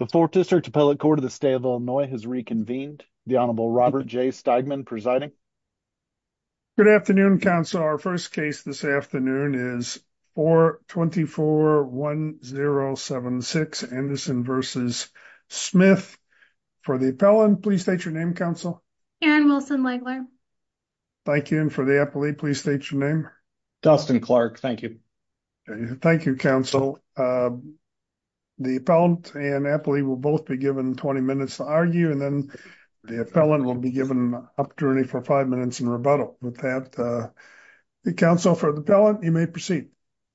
The 4th District Appellate Court of the State of Illinois has reconvened. The Honorable Robert J. Steigman presiding. Good afternoon, counsel. Our first case this afternoon is 4241076 Anderson v. Smith. For the appellant, please state your name, counsel. Karen Wilson-Legler. Thank you. And for the appellee, please state your name. Dustin Clark. Thank you. Thank you, counsel. The appellant and appellee will both be given 20 minutes to argue, and then the appellant will be given an opportunity for five minutes in rebuttal. With that, counsel, for the appellant, you may proceed.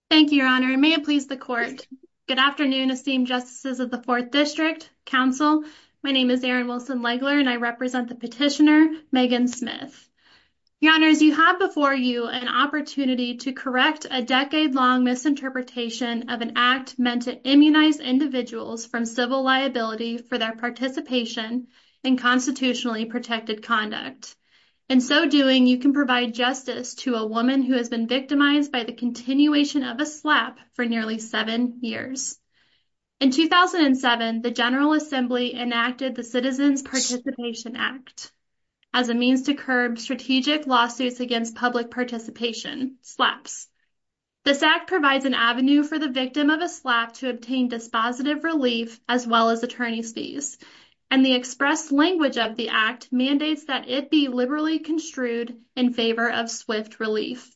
Thank you, Your Honor. May it please the court. Good afternoon, esteemed justices of the 4th District. Counsel, my name is Erin Wilson-Legler, and I represent the petitioner Megan Smith. Your Honors, you have before you an opportunity to correct a decade-long misinterpretation of an act meant to immunize individuals from civil liability for their participation in constitutionally protected conduct. In so doing, you can provide justice to a woman who has been victimized by the continuation of a slap for nearly seven years. In 2007, the General Assembly enacted the Citizens Participation Act as a means to curb strategic lawsuits against public participation slaps. This act provides an avenue for the victim of a slap to obtain dispositive relief as well as attorney's fees, and the express language of the act mandates that it be liberally construed in favor of swift relief.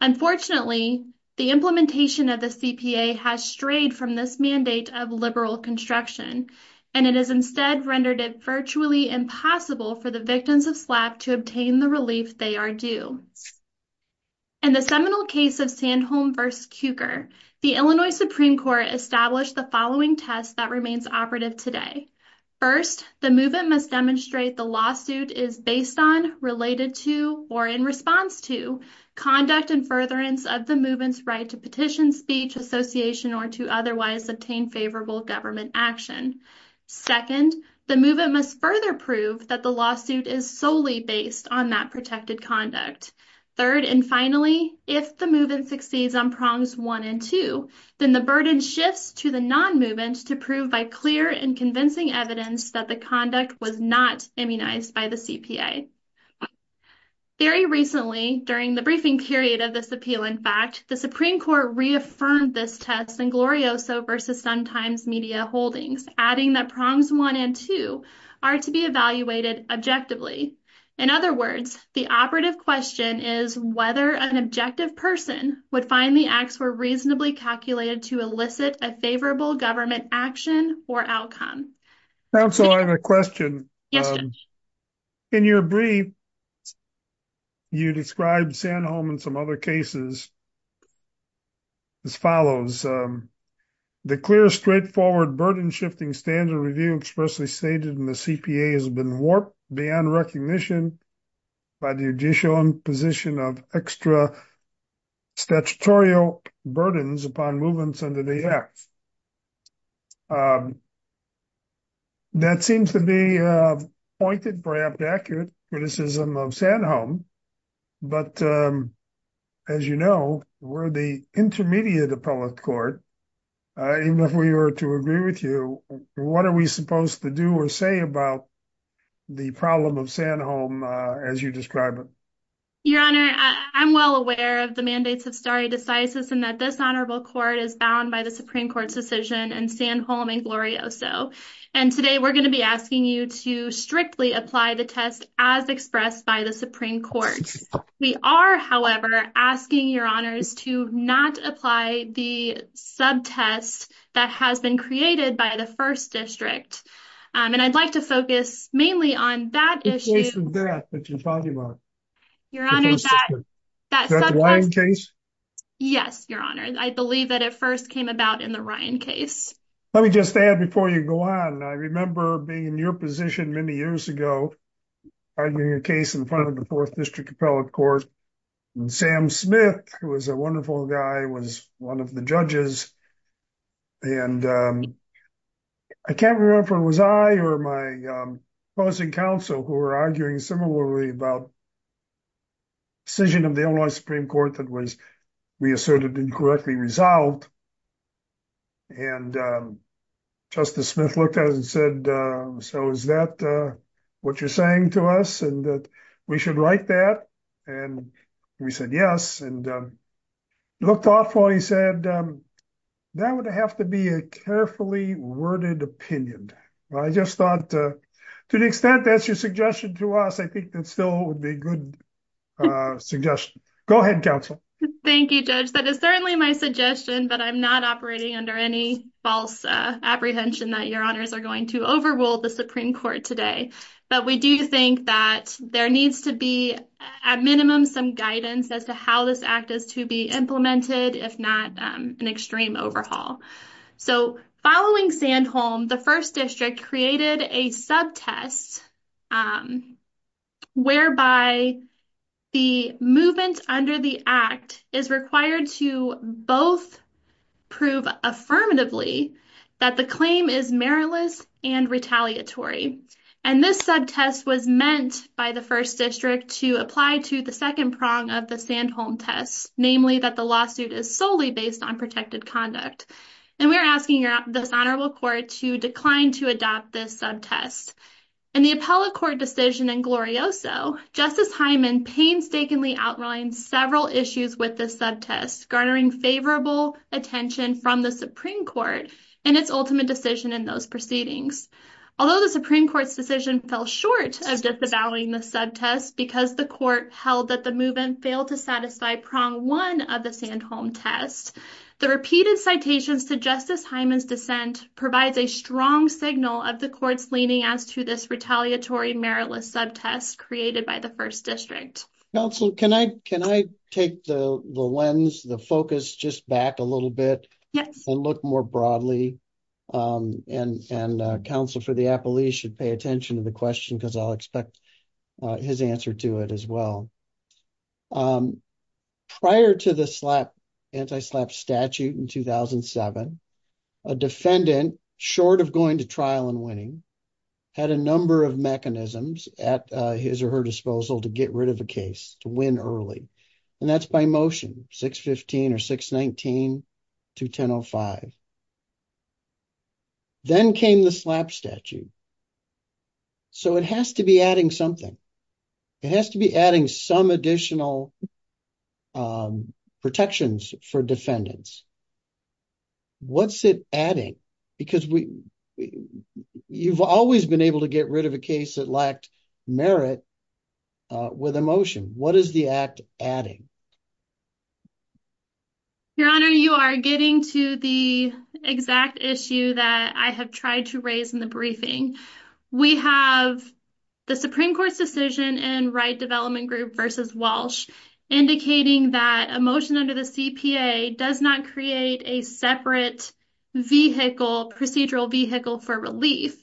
Unfortunately, the implementation of the CPA has strayed from this mandate of liberal construction, and it has instead rendered it virtually impossible for the victims of slap to obtain the relief they are due. In the seminal case of Sandholm v. Cukor, the Illinois Supreme Court established the following test that remains operative today. First, the movement must demonstrate the lawsuit is based on, related to, or in response to, conduct and furtherance of the movement's right to petition, speech, association, or to otherwise obtain favorable government action. Second, the movement must further prove that the lawsuit is solely based on that protected conduct. Third, and finally, if the movement succeeds on prongs one and two, then the burden shifts to the non-movement to prove by clear and convincing evidence that the conduct was not immunized by the CPA. Very recently, during the briefing period of this appeal, in fact, the Supreme Court reaffirmed this test in Glorioso v. Sometimes Media Holdings, adding that prongs one and two are to be evaluated objectively. In other words, the operative question is whether an objective person would find the acts were reasonably calculated to elicit a favorable government action or outcome. Council, I have a question. In your brief, you described Sandholm and some other cases as follows. The clear, straightforward, burden-shifting standard review expressly stated in the CPA has been warped beyond recognition by the judicial position of extra statutorial burdens upon movements under the Act. That seems to be a pointed, perhaps accurate, criticism of Sandholm, but as you know, we're the intermediate appellate court. Even if we were to agree with you, what are we supposed to do or say about the problem of Sandholm as you describe it? Your Honor, I'm well aware of the mandates of stare decisis and that this honorable court is bound by the Supreme Court's decision and Sandholm and Glorioso, and today we're going to be asking you to strictly apply the test as expressed by the Supreme Court. We are, however, asking your honors to not apply the subtest that has been created by the First District, and I'd like to focus mainly on that issue. In place of that, that you're talking about? Your Honor, that... Is that the Ryan case? Yes, Your Honor. I believe that it first came about in the Ryan case. Let me just add before you go on, I remember being in your position many years ago, arguing a case in front of the Fourth District appellate court, and Sam Smith, who was a wonderful guy, was one of the judges, and I can't remember if it was I or my opposing counsel who were arguing similarly about a decision of the Illinois Supreme Court that was, we asserted, incorrectly resolved, and Justice Smith looked at it and said, so is that what you're saying to us, and that we should write that, and we said yes, and looked off while he said, that would have to be a carefully worded opinion. I just thought, to the extent that's your suggestion to us, I think that still would be a good suggestion. Go ahead, counsel. Thank you, Judge. That is certainly my suggestion, but I'm not operating under any apprehension that Your Honors are going to overrule the Supreme Court today. But we do think that there needs to be, at minimum, some guidance as to how this act is to be implemented, if not an extreme overhaul. So, following Sandholm, the First District created a subtest whereby the movement under the act is required to both prove affirmatively that the claim is meritless and retaliatory. And this subtest was meant by the First District to apply to the second prong of the Sandholm test, namely that the lawsuit is solely based on protected conduct. And we are asking this honorable court to decline to adopt this subtest. In the appellate court decision in Glorioso, Justice Hyman painstakingly outlined several issues with this subtest, garnering favorable attention from the Supreme Court in its ultimate decision in those proceedings. Although the Supreme Court's decision fell short of disavowing the subtest because the court held that the movement failed to satisfy prong one of the citations to Justice Hyman's dissent provides a strong signal of the court's leaning as to this retaliatory meritless subtest created by the First District. Counsel, can I take the lens, the focus just back a little bit and look more broadly? And counsel for the appellee should pay attention to the question because I'll expect his answer to it as well. Prior to the slap anti-slap statute in 2007, a defendant short of going to trial and winning had a number of mechanisms at his or her disposal to get rid of a case to win early. And that's by motion 615 or 619 to 1005. Then came the slap statute. So it has to be adding something. It has to be adding some additional protections for defendants. What's it adding? Because we you've always been able to get rid of a case that lacked merit with emotion. What is the act adding? Your Honor, you are getting to the exact issue that I have tried to raise in the briefing. We have the Supreme Court's decision in Wright Development Group versus Walsh indicating that a motion under the CPA does not create a separate vehicle, procedural vehicle for relief.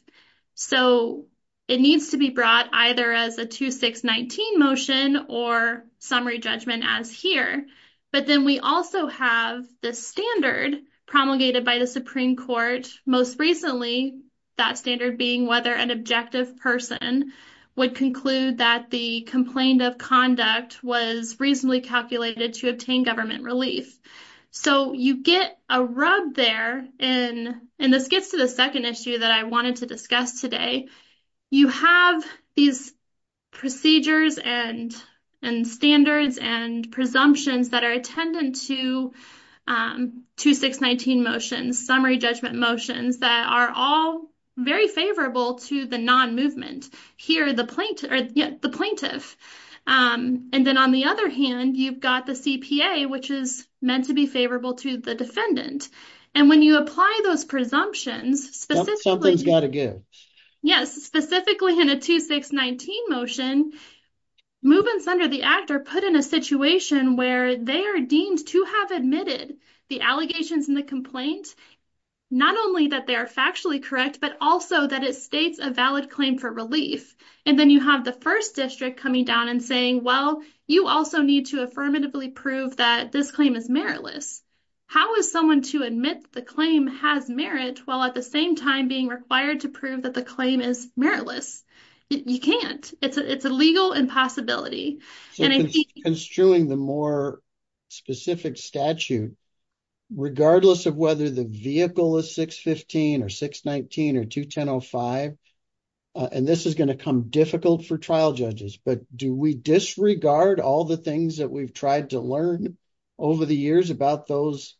So it needs to be brought either as a 2619 motion or summary judgment as here. But then we also have the standard promulgated by the Supreme Court. Most recently, that standard being whether an objective person would conclude that the complaint of conduct was reasonably calculated to obtain government relief. So you get a rub there and this gets to the second issue that I wanted to discuss today. You have these procedures and standards and presumptions that are attendant to 2619 motions, summary judgment motions that are all very favorable to the non-movement. Here, the plaintiff. And then on the other hand, you've got the CPA which is meant to be favorable to the defendant. And when you apply those presumptions, specifically in a 2619 motion, movements under the act are put in a situation where they are deemed to have admitted the allegations in the complaint, not only that they are factually correct, but also that it states a valid claim for relief. And then you have the first district coming down and saying, well, you also need to affirmatively prove that this claim is meritless. How is someone to admit the claim has merit while at the same time being required to prove that the claim is meritless? You can't. It's a legal impossibility. And I think... Construing the more specific statute, regardless of whether the vehicle is 615 or 619 or 2105, and this is going to come difficult for trial judges, but do we disregard all the things that we've tried to learn over the years about those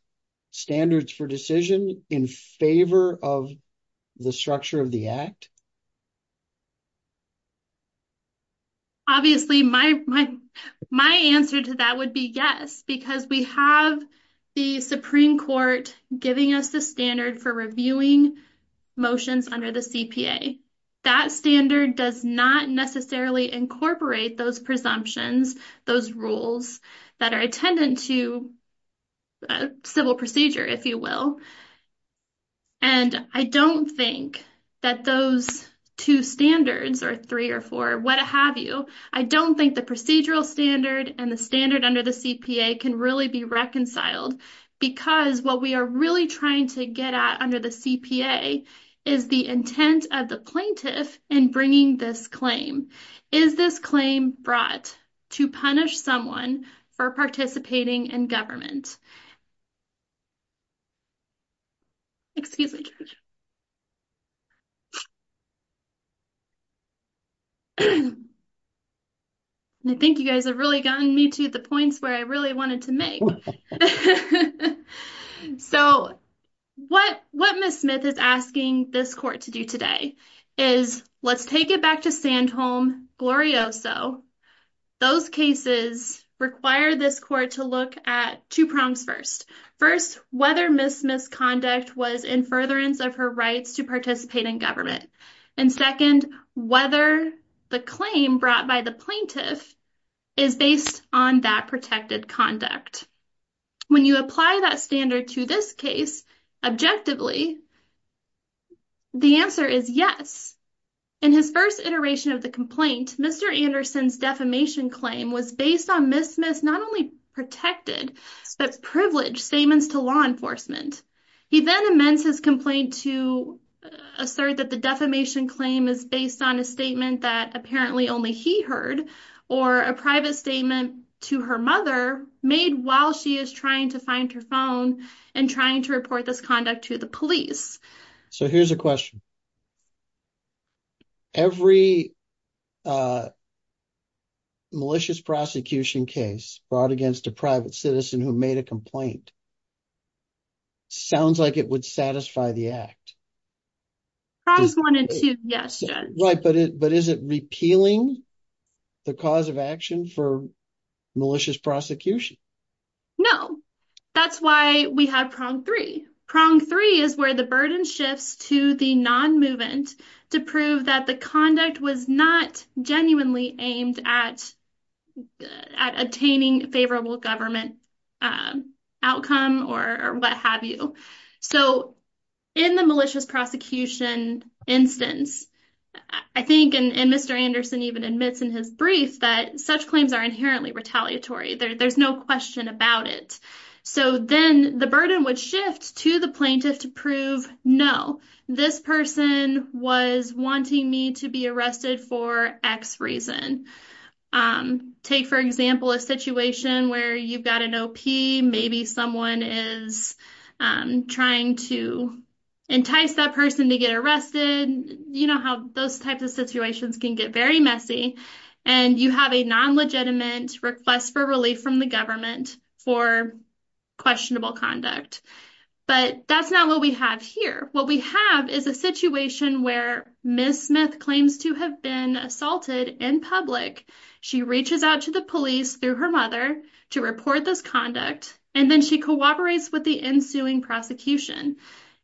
standards for decision in favor of the structure of the act? Obviously, my answer to that would be yes, because we have the Supreme Court giving us the standard for reviewing motions under the CPA. That standard does not necessarily incorporate those presumptions, those rules that are attendant to civil procedure, if you will. And I don't think that those two standards or three or four, what have you, I don't think the procedural standard and the standard under the CPA can really be reconciled, because what we are really trying to get at under the CPA is the intent of the plaintiff in bringing this claim. Is this claim brought to punish someone for participating in government? Excuse me. I think you guys have really gotten me to the points where I really wanted to make. So, what Ms. Smith is asking this court to do today is, let's take it back to Sandholm, Glorioso. Those cases require this court to look at two prongs first. First, whether Ms. Smith's conduct was in furtherance of her rights to participate in government. And second, whether the claim brought by the plaintiff is based on that protected conduct. When you apply that standard to this case, objectively, the answer is yes. In his first iteration of the complaint, Mr. Anderson's defamation claim was based on Ms. Smith's not only protected, but privileged statements to law enforcement. He then amends his complaint to assert that the defamation claim is based on a statement that apparently only he heard, or a private statement to her mother made while she is trying to find her phone and trying to report this conduct to the police. So, here's a question. Every malicious prosecution case brought against a private citizen who made a complaint, sounds like it would satisfy the act. Prongs one and two, yes, Judge. Right, but is it repealing the cause of action for malicious prosecution? No. That's why we have prong three. Prong three is where the burden shifts to the non-movement to prove that the conduct was not genuinely aimed at obtaining favorable government outcome or what have you. So, in the malicious prosecution instance, I think, and Mr. Anderson even admits in his brief that such claims are inherently retaliatory. There's no question about it. So, then the burden would shift to the plaintiff to prove, no, this person was wanting me to be arrested for X reason. Take, for example, a situation where you've got an OP, maybe someone is trying to entice that person to get arrested. You know how those types of and you have a non-legitimate request for relief from the government for questionable conduct. But that's not what we have here. What we have is a situation where Ms. Smith claims to have been assaulted in public. She reaches out to the police through her mother to report this conduct, and then she cooperates with the ensuing prosecution.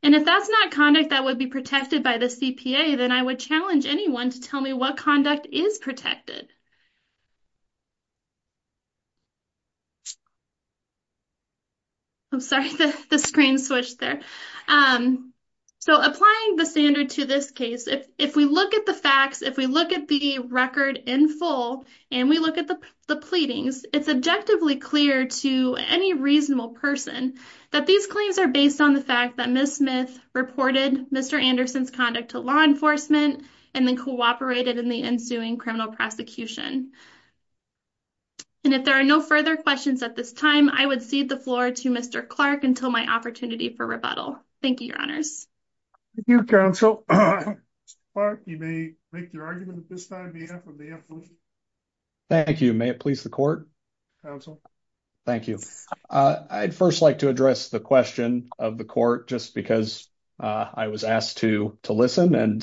And if that's not conduct that be protected by the CPA, then I would challenge anyone to tell me what conduct is protected. I'm sorry, the screen switched there. So, applying the standard to this case, if we look at the facts, if we look at the record in full, and we look at the pleadings, it's objectively clear to any reasonable person that these claims are based on the fact that Ms. reported Mr. Anderson's conduct to law enforcement and then cooperated in the ensuing criminal prosecution. And if there are no further questions at this time, I would cede the floor to Mr. Clark until my opportunity for rebuttal. Thank you, your honors. Thank you, counsel. Mr. Clark, you may make your argument at this time. Thank you. May it please the court? Counsel. Thank you. I'd first like to address the question of the court just because I was asked to listen and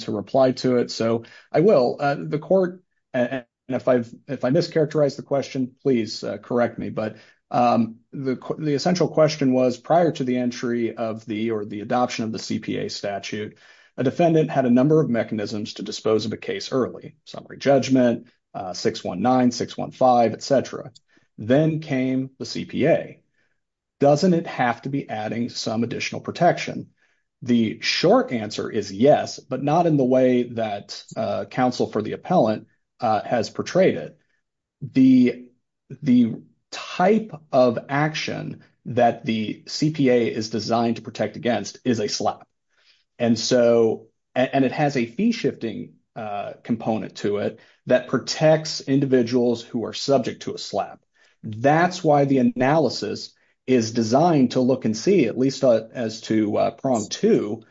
to reply to it. So, I will. The court, and if I mischaracterize the question, please correct me. But the essential question was, prior to the entry of the or the adoption of the CPA statute, a defendant had a number of mechanisms to dispose of a case early. Summary judgment, 619, 615, etc. Then came the CPA. Doesn't it have to be adding some additional protection? The short answer is yes, but not in the way that counsel for the appellant has portrayed it. The type of action that the CPA is designed to protect against is a slap. And so, and it has a fee shifting component to it that protects individuals who are subject to a slap. That's why the analysis is designed to look and see, at least as to prong two,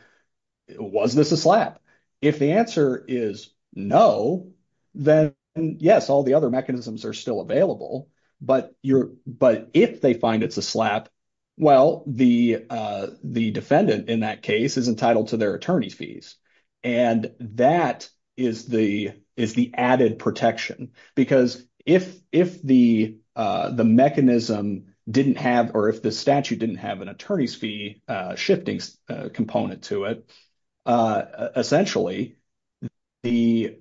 was this a slap? If the answer is no, then yes, all the other mechanisms are still available. But if they find it's a slap, well, the defendant in that case is entitled to their attorney's fees. And that is the added protection. Because if the mechanism didn't have, or if the statute didn't have an attorney's fee shifting component to it, essentially, they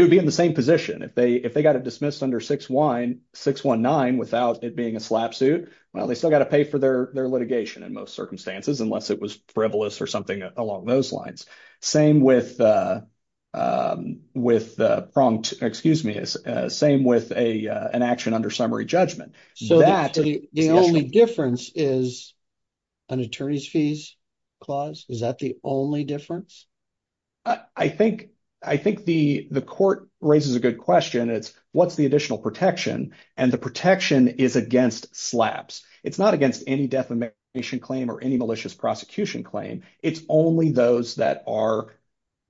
would be in the same position. If they got it dismissed under 619 without it a slap suit, well, they still got to pay for their litigation in most circumstances, unless it was frivolous or something along those lines. Same with pronged, excuse me, same with an action under summary judgment. So, the only difference is an attorney's fees clause? Is that the only difference? I think the court raises a good question. It's what's the additional protection? And the protection is against slaps. It's not against any defamation claim or any malicious prosecution claim. It's only those that are,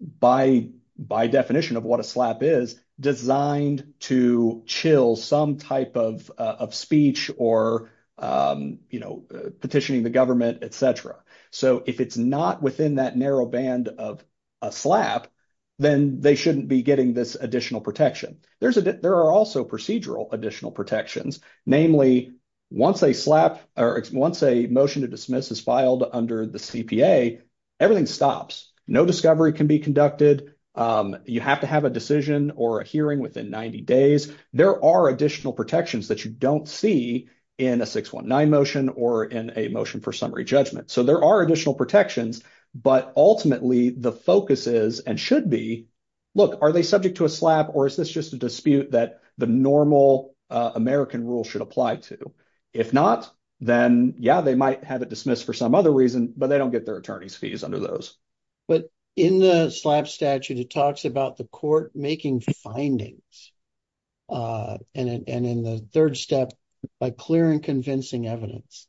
by definition of what a slap is, designed to chill some type of speech or petitioning the government, et cetera. So, if it's not within that narrow band of a slap, then they shouldn't be getting this additional protection. There are also procedural additional protections. Namely, once a slap or once a motion to dismiss is filed under the CPA, everything stops. No discovery can be conducted. You have to have a decision or a hearing within 90 days. There are additional protections that you don't see in a 619 motion or in a motion for summary judgment. So, there are additional protections. But ultimately, the focus is and should be, look, are they subject to a slap? Or is this just a dispute that the normal American rule should apply to? If not, then yeah, they might have it dismissed for some other reason, but they don't get their attorney's fees under those. But in the slap statute, it talks about the court making findings. And in the third step, by clear and convincing evidence,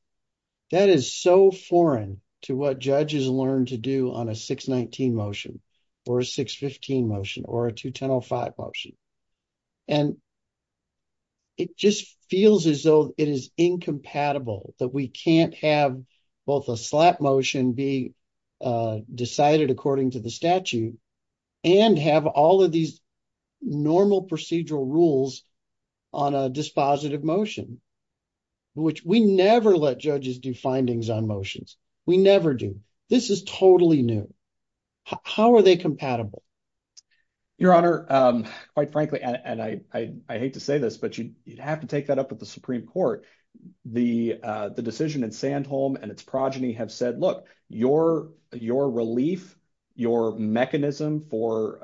that is so foreign to what judges learn to do on a 619 motion or a 615 motion or a 2105 motion. And it just feels as though it is incompatible that we can't have both a slap motion be decided according to the statute and have all of these normal procedural rules on a dispositive motion, which we never let judges do findings on motions. We never do. This is totally new. How are they compatible? Your Honor, quite frankly, and I hate to say this, but you'd have to take that up with the Supreme Court. The decision in Sandholm and its progeny have said, look, your relief, your mechanism for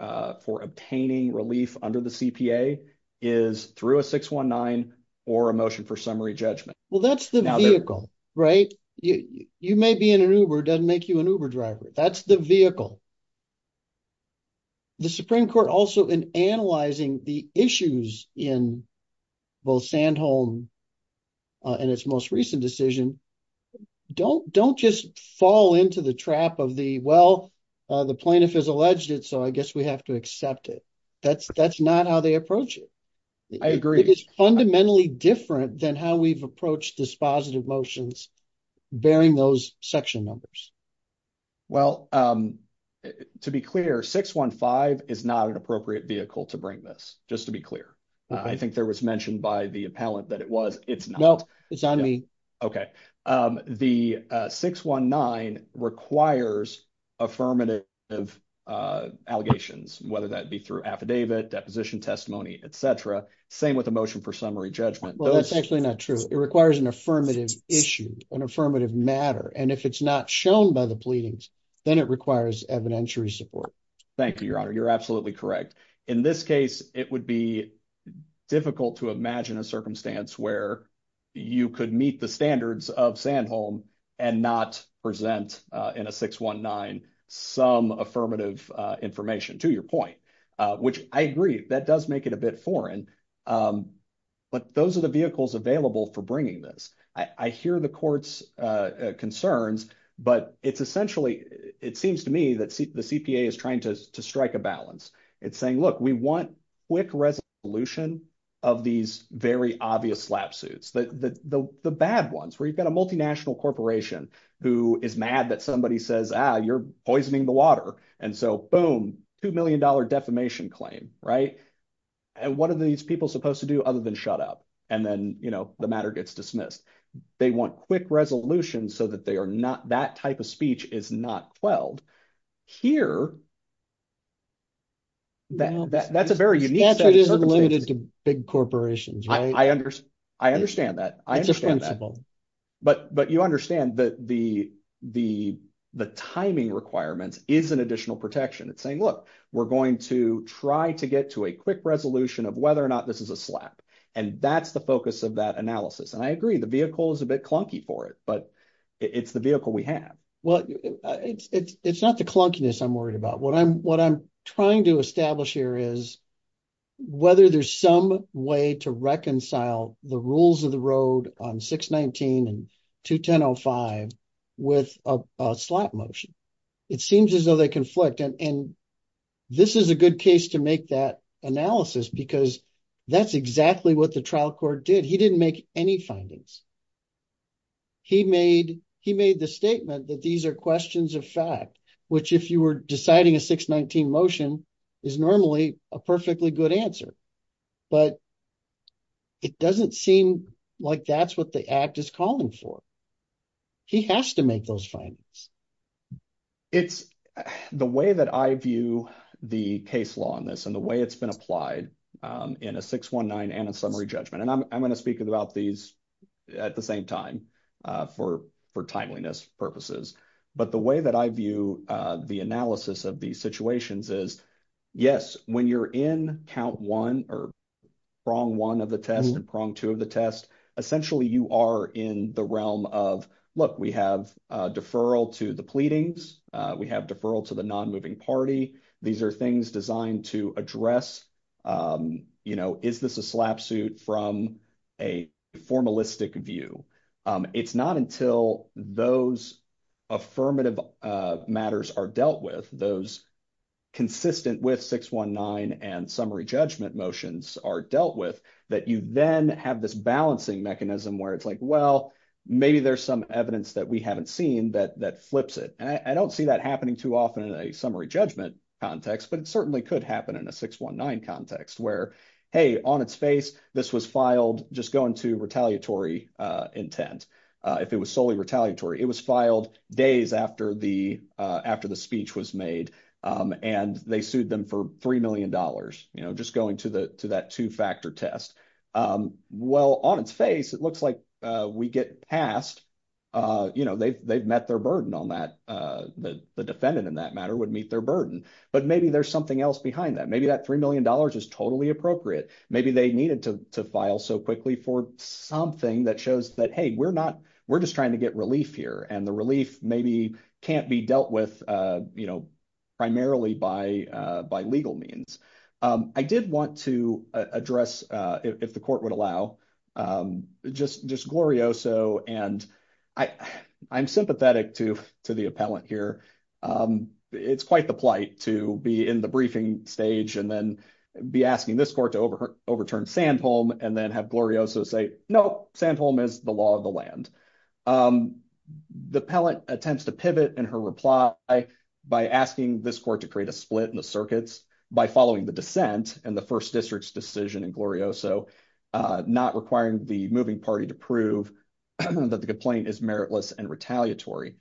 obtaining relief under the CPA is through a 619 or a motion for summary judgment. Well, that's the vehicle, right? You may be in an Uber, doesn't make you an Uber driver. That's the vehicle. The Supreme Court also in analyzing the issues in both Sandholm and its most recent decision, don't just fall into the trap of the, well, the plaintiff has alleged it, so I guess we have to accept it. That's not how they approach it. I agree. It's fundamentally different than how we've approached dispositive motions bearing those section numbers. Well, to be clear, 615 is not an appropriate vehicle to bring this. Just to be clear. I think there was mentioned by the appellant that it was. It's not. It's on me. Okay. The 619 requires affirmative allegations, whether that be through affidavit, deposition testimony, et cetera. Same with the motion for summary judgment. Well, that's actually not true. It requires an affirmative issue, an affirmative matter, and if it's not shown by the pleadings, then it requires evidentiary support. Thank you, Your Honor. You're absolutely correct. In this case, it would be difficult to imagine a circumstance where you could meet the standards of Sandholm and not present in a 619 some affirmative information, to your point, which I agree, that does make it a bit foreign, but those are the vehicles available for bringing this. I hear the court's concerns, but it's essentially, it seems to me that the CPA is trying to strike a balance. It's saying, look, we want quick resolution of these very obvious slapsuits, the bad ones where you've got a multinational corporation who is mad that somebody says, ah, you're poisoning the water. And so boom, $2 million defamation claim, right? And what are these people supposed to do other than shut up? And then the matter gets dismissed. They want quick resolution so that they are not, that type of speech is not quelled. Here, that's a very unique set of circumstances. The standard isn't limited to big corporations, right? I understand that. I understand that. But you understand that the timing requirements is an additional protection. It's saying, look, we're going to try to get to a quick resolution of whether or not this is a slap. And that's the focus of that analysis. And I agree, the vehicle is a bit clunky for it, but it's the vehicle we have. Well, it's not the clunkiness I'm worried about. What I'm trying to establish here is whether there's some way to reconcile the rules of the road on 619 and 2105 with a slap motion. It seems as though they conflict. And this is a good case to make that analysis because that's exactly what the trial court did. He didn't make any findings. He made the statement that these are questions of fact, which if you were deciding a 619 motion is normally a perfectly good answer. But it doesn't seem like that's what the act is calling for. He has to make those findings. It's the way that I view the case law on this and the way it's been applied in a 619 and a summary judgment. And I'm going to speak about these at the same time for timeliness purposes. But the way that I view the analysis of these situations is, yes, when you're in count one or prong one of the test and prong two of the test, essentially you are in the realm of, look, we have a deferral to the pleadings. We have deferral to the non-moving party. These are things designed to address. You know, is this a slap suit from a formalistic view? It's not until those affirmative matters are dealt with, those consistent with 619 and summary judgment motions are dealt with that you then have this balancing mechanism where it's like, well, maybe there's some evidence that we haven't seen that flips it. And I don't see that happening too often in a summary judgment context, but it certainly could happen in a 619 context where, hey, on its face, this was filed just going to retaliatory intent. If it was solely retaliatory, it was filed days after the speech was made and they sued them for $3 million, just going to that two-factor test. Well, on its face, it looks like we get passed. You know, they've met their burden on that. The defendant in that matter would meet their burden, but maybe there's something else behind that. Maybe that $3 million is totally appropriate. Maybe they needed to file so quickly for something that shows that, hey, we're not, we're just trying to get relief here. And the relief maybe can't be dealt with, you know, primarily by legal means. I did want to address, if the court would allow, just Glorioso. And I'm sympathetic to the appellant here. It's quite the plight to be in the briefing stage and then be asking this court to overturn Sandholm and then have Glorioso say, no, Sandholm is the law of the land. The appellant attempts to pivot in her reply by asking this court to create a split in the circuits by following the dissent and the requiring the moving party to prove that the complaint is meritless and retaliatory.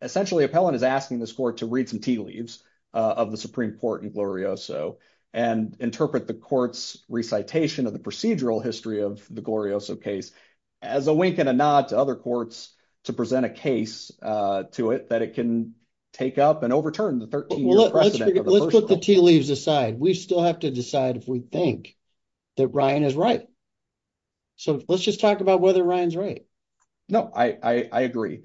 Essentially, appellant is asking this court to read some tea leaves of the Supreme Court in Glorioso and interpret the court's recitation of the procedural history of the Glorioso case as a wink and a nod to other courts to present a case to it that it can take up and overturn the 13-year precedent. Let's put the tea leaves aside. We still have to decide if we think that Ryan is right. Let's just talk about whether Ryan's right. No, I agree.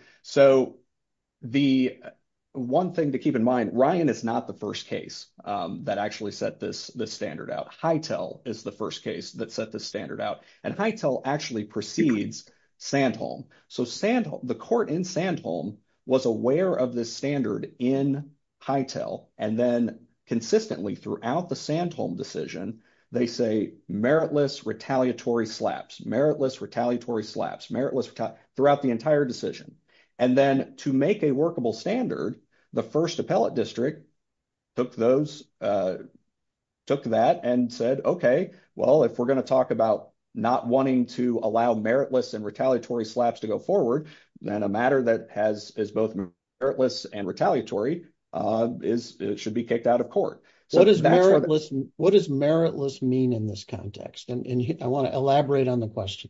One thing to keep in mind, Ryan is not the first case that actually set this standard out. Hytel is the first case that set this standard out. Hytel actually precedes Sandholm. The court in Sandholm was aware of this standard in Hytel and then consistently throughout the Sandholm decision, they say meritless, retaliatory slaps, meritless, retaliatory slaps, meritless, throughout the entire decision. Then to make a workable standard, the first appellate district took that and said, okay, well, if we're going to talk about not wanting to allow meritless and retaliatory slaps to go forward, then a matter that is both meritless and retaliatory should be kicked out of court. What does meritless mean in this context? I want to elaborate on the question.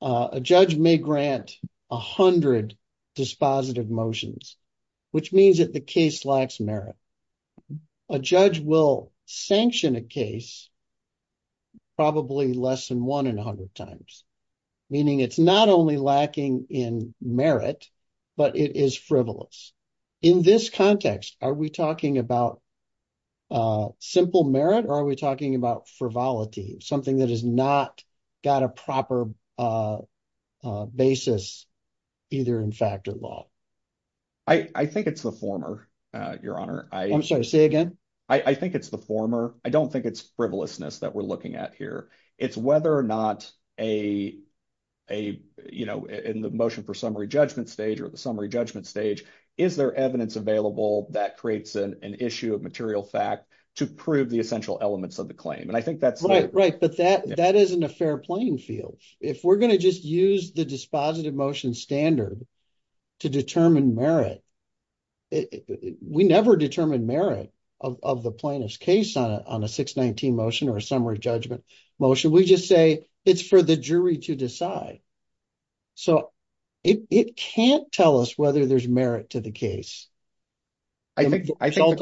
A judge may grant 100 dispositive motions, which means that the case lacks merit. A judge will sanction a case probably less than one in a hundred times, meaning it's not only lacking in merit, but it is frivolous. In this context, are we talking about simple merit or are we talking about frivolity, something that has not got a proper basis either in fact or law? I think it's the former, Your Honor. I'm sorry, say again. I think it's the former. I don't think it's frivolousness that we're looking at here. It's whether or not in the motion for summary judgment stage or the summary judgment stage, is there evidence available that creates an issue of material fact to prove the essential elements of the claim? That isn't a fair playing field. If we're going to just use the dispositive motion standard to determine merit, we never determine merit of the plaintiff's case on a 619 motion or a summary judgment motion. We just say it's for the jury to decide. It can't tell us whether there's merit to the case. Again, I think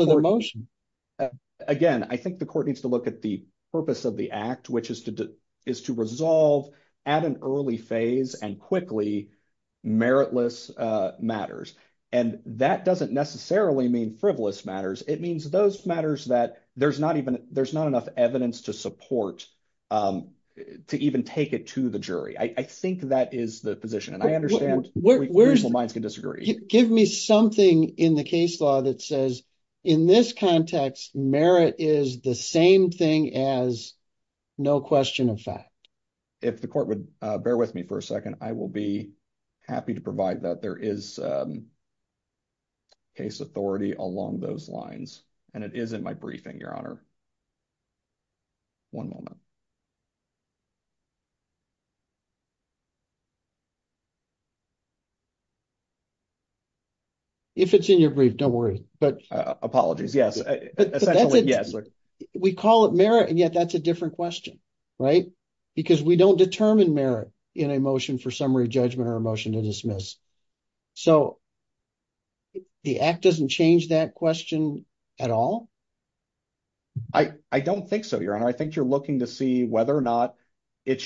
the court needs to look at the purpose of the act, which is to resolve at an that doesn't necessarily mean frivolous matters. It means those matters that there's not enough evidence to support, to even take it to the jury. I think that is the position and I understand minds can disagree. Give me something in the case law that says, in this context, merit is the same thing as no question of fact. If the court would bear with me for a second, I will be happy to provide that there is case authority along those lines. It is in my briefing, Your Honor. One moment. If it's in your brief, don't worry. Apologies, yes. We call it merit and yet that's a different question, right? Because we don't determine in a motion for summary judgment or a motion to dismiss. The act doesn't change that question at all? I don't think so, Your Honor. I think you're looking to see whether or not the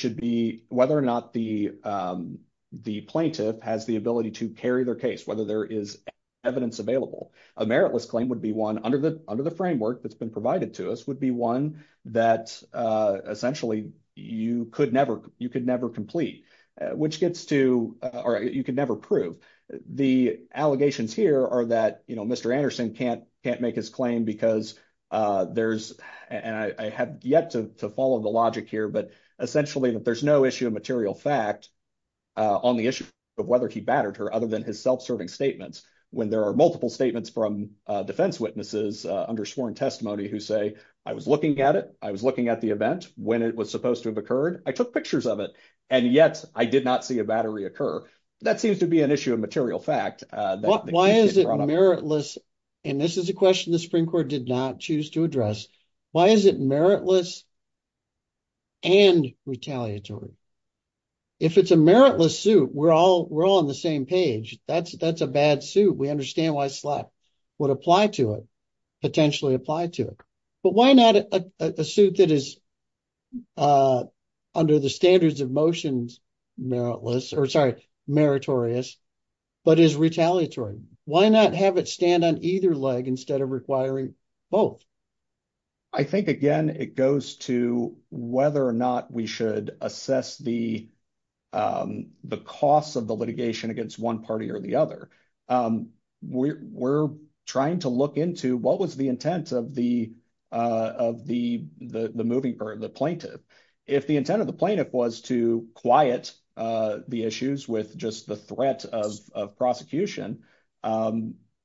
plaintiff has the ability to carry their case, whether there is evidence available. A meritless claim would be one under the framework that's been provided to one that essentially you could never complete, which gets to, or you could never prove. The allegations here are that Mr. Anderson can't make his claim because there's, and I have yet to follow the logic here, but essentially that there's no issue of material fact on the issue of whether he battered her other than his self-serving statements. When there are multiple statements from defense witnesses under sworn testimony who say, I was looking at it. I was looking at the event when it was supposed to have occurred. I took pictures of it and yet I did not see a battery occur. That seems to be an issue of material fact. Why is it meritless? And this is a question the Supreme Court did not choose to address. Why is it meritless and retaliatory? If it's a meritless suit, we're all on the same page. That's a bad suit. We understand why slap would apply to it, potentially apply to it, but why not a suit that is under the standards of motions meritless or sorry, meritorious, but is retaliatory. Why not have it stand on either leg instead of requiring both? I think again, it goes to whether or not we should assess the costs of the litigation against one party or the other. We're trying to look into what was the intent of the plaintiff. If the intent of the plaintiff was to quiet the issues with just the threat of prosecution,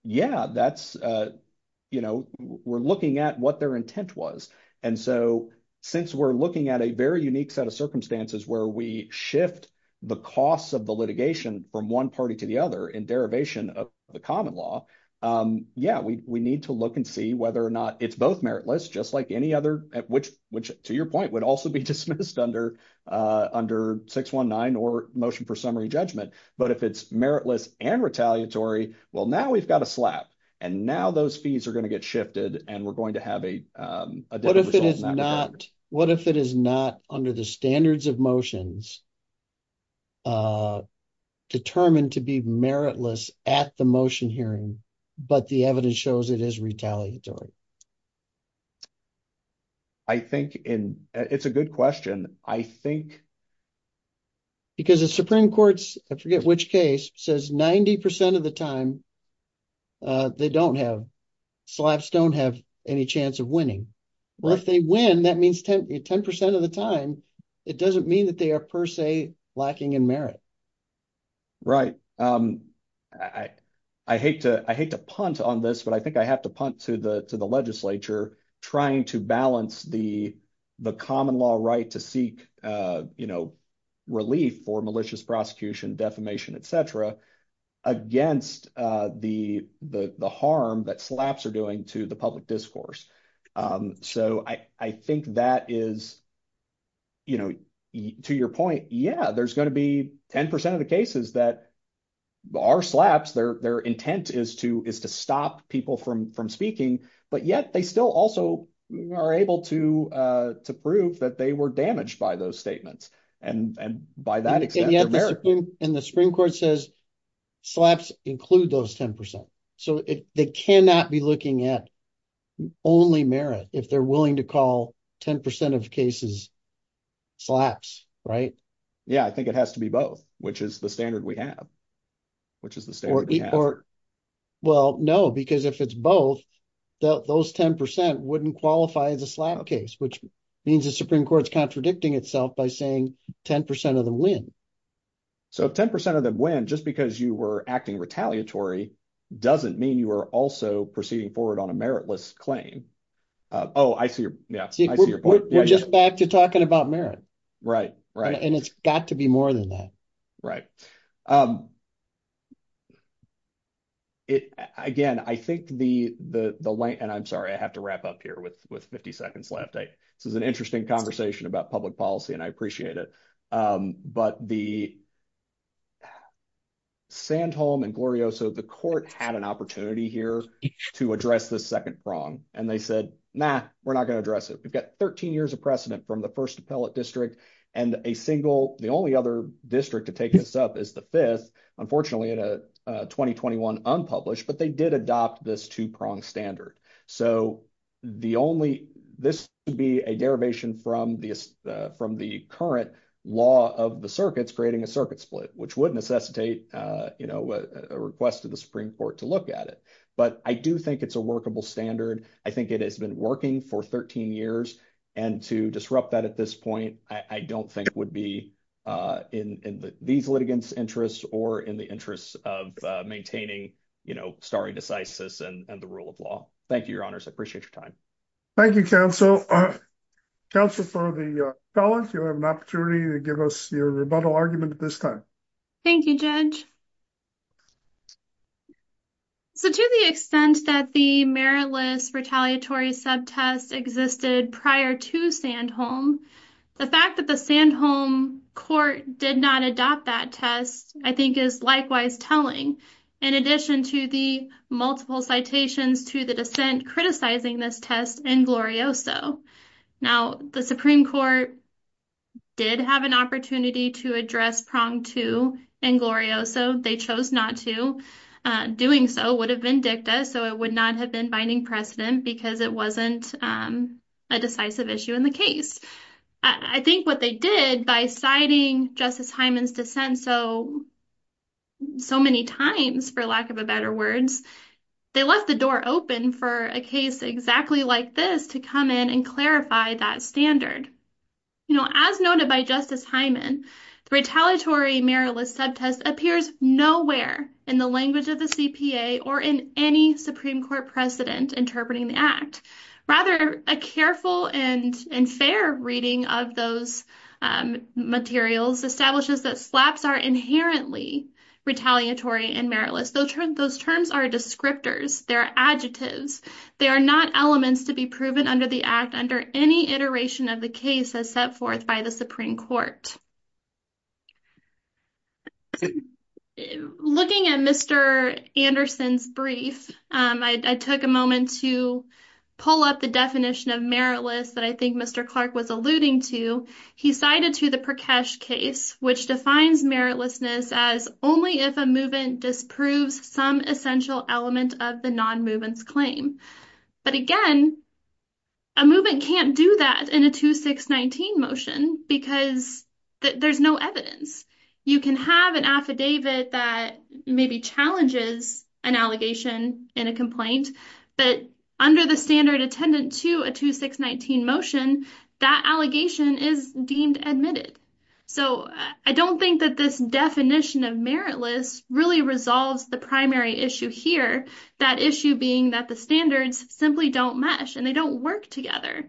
yeah, we're looking at what their intent was. And so since we're looking at a very unique set of circumstances where we shift the costs of the litigation from one party to the other in derivation of the common law, yeah, we need to look and see whether or not it's both meritless, just like any other, which to your point would also be dismissed under 619 or motion for summary judgment. But if it's meritless and retaliatory, well, now we've got a slap and now those fees are going to get shifted and we're going to have a What if it is not under the standards of motions determined to be meritless at the motion hearing, but the evidence shows it is retaliatory? I think it's a good question. I think. Because the Supreme Court, I forget which case, says 90% of the time they don't have, slaps don't have any chance of winning. Well, if they win, that means 10% of the time, it doesn't mean that they are per se lacking in merit. Right. I hate to punt on this, but I think I have to punt to the legislature trying to balance the common law right to seek you know, relief for malicious prosecution, defamation, etc. against the harm that slaps are doing to the public discourse. So I think that is, you know, to your point, yeah, there's going to be 10% of the cases that are slaps, their intent is to stop people from speaking, but yet they still also are able to prove that they were damaged by those statements. And the Supreme Court says slaps include those 10%. So they cannot be looking at only merit if they're willing to call 10% of cases slaps, right? Yeah, I think it has to be both, which is the standard we have. Which is the standard we have. Well, no, because if it's both, those 10% wouldn't qualify as a slap case, which means the Supreme Court's contradicting itself by saying 10% of them win. So if 10% of them win, just because you were acting retaliatory, doesn't mean you are also proceeding forward on a meritless claim. Oh, I see your, yeah, I see your point. We're just back to talking about merit. Right, right. And it's got to be more than that. Right. Again, I think the, and I'm sorry, I have to wrap up here with 50 seconds left. This is an interesting conversation about public policy and I appreciate it. But the Sandholm and Glorioso, the court had an opportunity here to address this second prong and they said, nah, we're not going to address it. We've got 13 years of precedent from the first appellate district and a single, the only other district to take this up is the fifth, unfortunately in a 2021 unpublished, but they did adopt this two prong standard. So the only, this would be a derivation from the current law of the circuits creating a circuit split, which would necessitate a request to the Supreme Court to look at it. But I do think it's a working for 13 years and to disrupt that at this point, I don't think would be in these litigants interests or in the interests of maintaining, you know, stare decisis and the rule of law. Thank you, your honors. I appreciate your time. Thank you, counsel. Counsel for the felons, you have an opportunity to give us your rebuttal argument at this time. Thank you, judge. So to the extent that the meritless retaliatory sub-test existed prior to Sandholm, the fact that the Sandholm court did not adopt that test, I think is likewise telling. In addition to the multiple citations to the dissent criticizing this test in glorioso. Now the Supreme Court did have an opportunity to address prong two in glorioso. They chose not to. Doing so would have been dicta, so it would not have been binding precedent because it wasn't a decisive issue in the case. I think what they did by citing Justice Hyman's dissent so many times, for lack of a better words, they left the door open for a case exactly like this to come in and clarify that standard. You know, as noted by Justice Hyman, the retaliatory meritless sub-test appears nowhere in the language of the CPA or in any Supreme Court precedent interpreting the act. Rather, a careful and fair reading of those materials establishes that SLAPs are inherently retaliatory and meritless. Those terms are descriptors. They're adjectives. They are not elements to be proven under the act under any iteration of the case as set forth by the Supreme Court. Looking at Mr. Anderson's brief, I took a moment to pull up the definition of meritless that I think Mr. Clark was alluding to. He cited to the Prakash case, which defines meritlessness as only if a movement disproves some essential element of the non-movement's claim. But again, a movement can't do that in a 2619 motion because there's no evidence. You can have an affidavit that maybe challenges an allegation in a complaint, but under the standard attendant to a 2619 motion, that allegation is deemed admitted. So I don't think that this definition of meritless really resolves the primary issue here. That issue being that the standards simply don't mesh and they don't work together.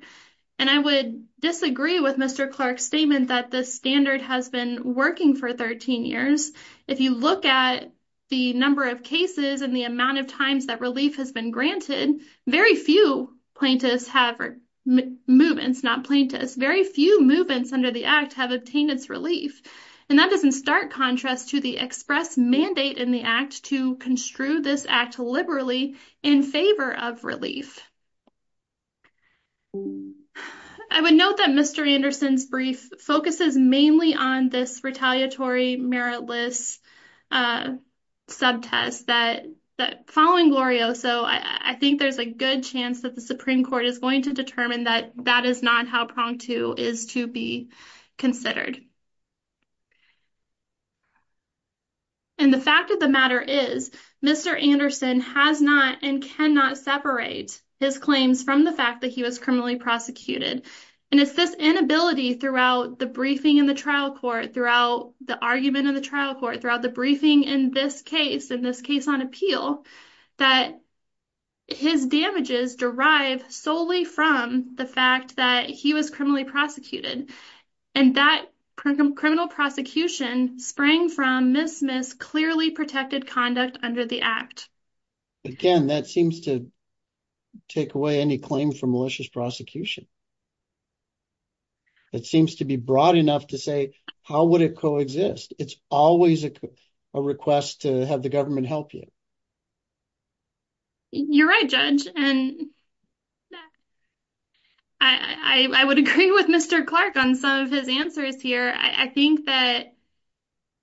And I would disagree with Mr. Clark's statement that the standard has been working for 13 years. If you look at the number of cases and the amount of times that relief has been granted, very few plaintiffs have or movements, not plaintiffs, very few movements under the act have obtained its relief. And that doesn't start contrast to the express mandate in the act to construe this act liberally in favor of relief. I would note that Mr. Anderson's brief focuses mainly on this retaliatory meritless subtest that following Glorio. So I think there's a good chance that the Supreme Court is going to determine that that is not how prong two is to be considered. And the fact of the matter is Mr. Anderson has not and cannot separate his claims from the fact that he was criminally prosecuted. And it's this inability throughout the briefing in the trial court, throughout the argument in the trial court, throughout the briefing in this case, in this case on appeal, that his damages derive solely from the fact that he was criminally prosecuted. And that criminal prosecution sprang from Ms. Smith's clearly protected conduct under the act. Again, that seems to take away any claim for malicious prosecution. It seems to be broad enough to say, how would it coexist? It's always a request to have the government help you. You're right, Judge. And I would agree with Mr. Clark on some of his answers here. I think that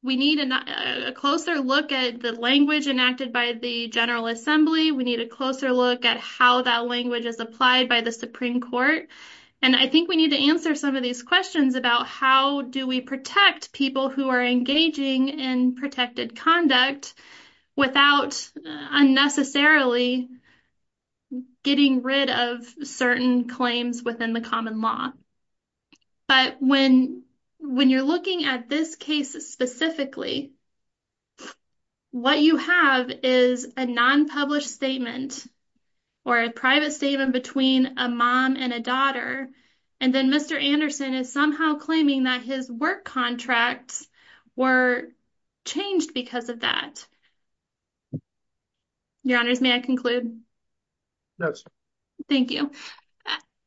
we need a closer look at the language enacted by the General Assembly. We need a closer look at how that language is applied by the Supreme Court. And I think we need to answer some of these questions about how do we protect people who are engaging in protected conduct without unnecessarily getting rid of certain claims within the common law. But when you're looking at this case specifically, what you have is a non-published statement or a private statement between a mom and a daughter. And then Mr. Anderson is somehow claiming that his work contracts were changed because of that. Your Honors, may I conclude? Yes. Thank you.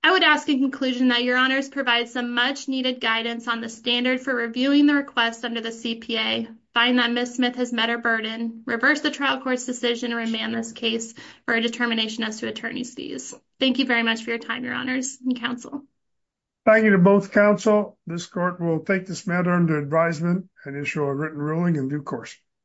I would ask in conclusion that Your Honors provide some much-needed guidance on the standard for reviewing the request under the CPA, find that Ms. Smith has met her burden, reverse the trial court's decision to remand this case for a determination as to attorney's fees. Thank you very much for your time, Your Honors and counsel. Thank you to both counsel. This court will take this matter under advisement and issue a written ruling in due course.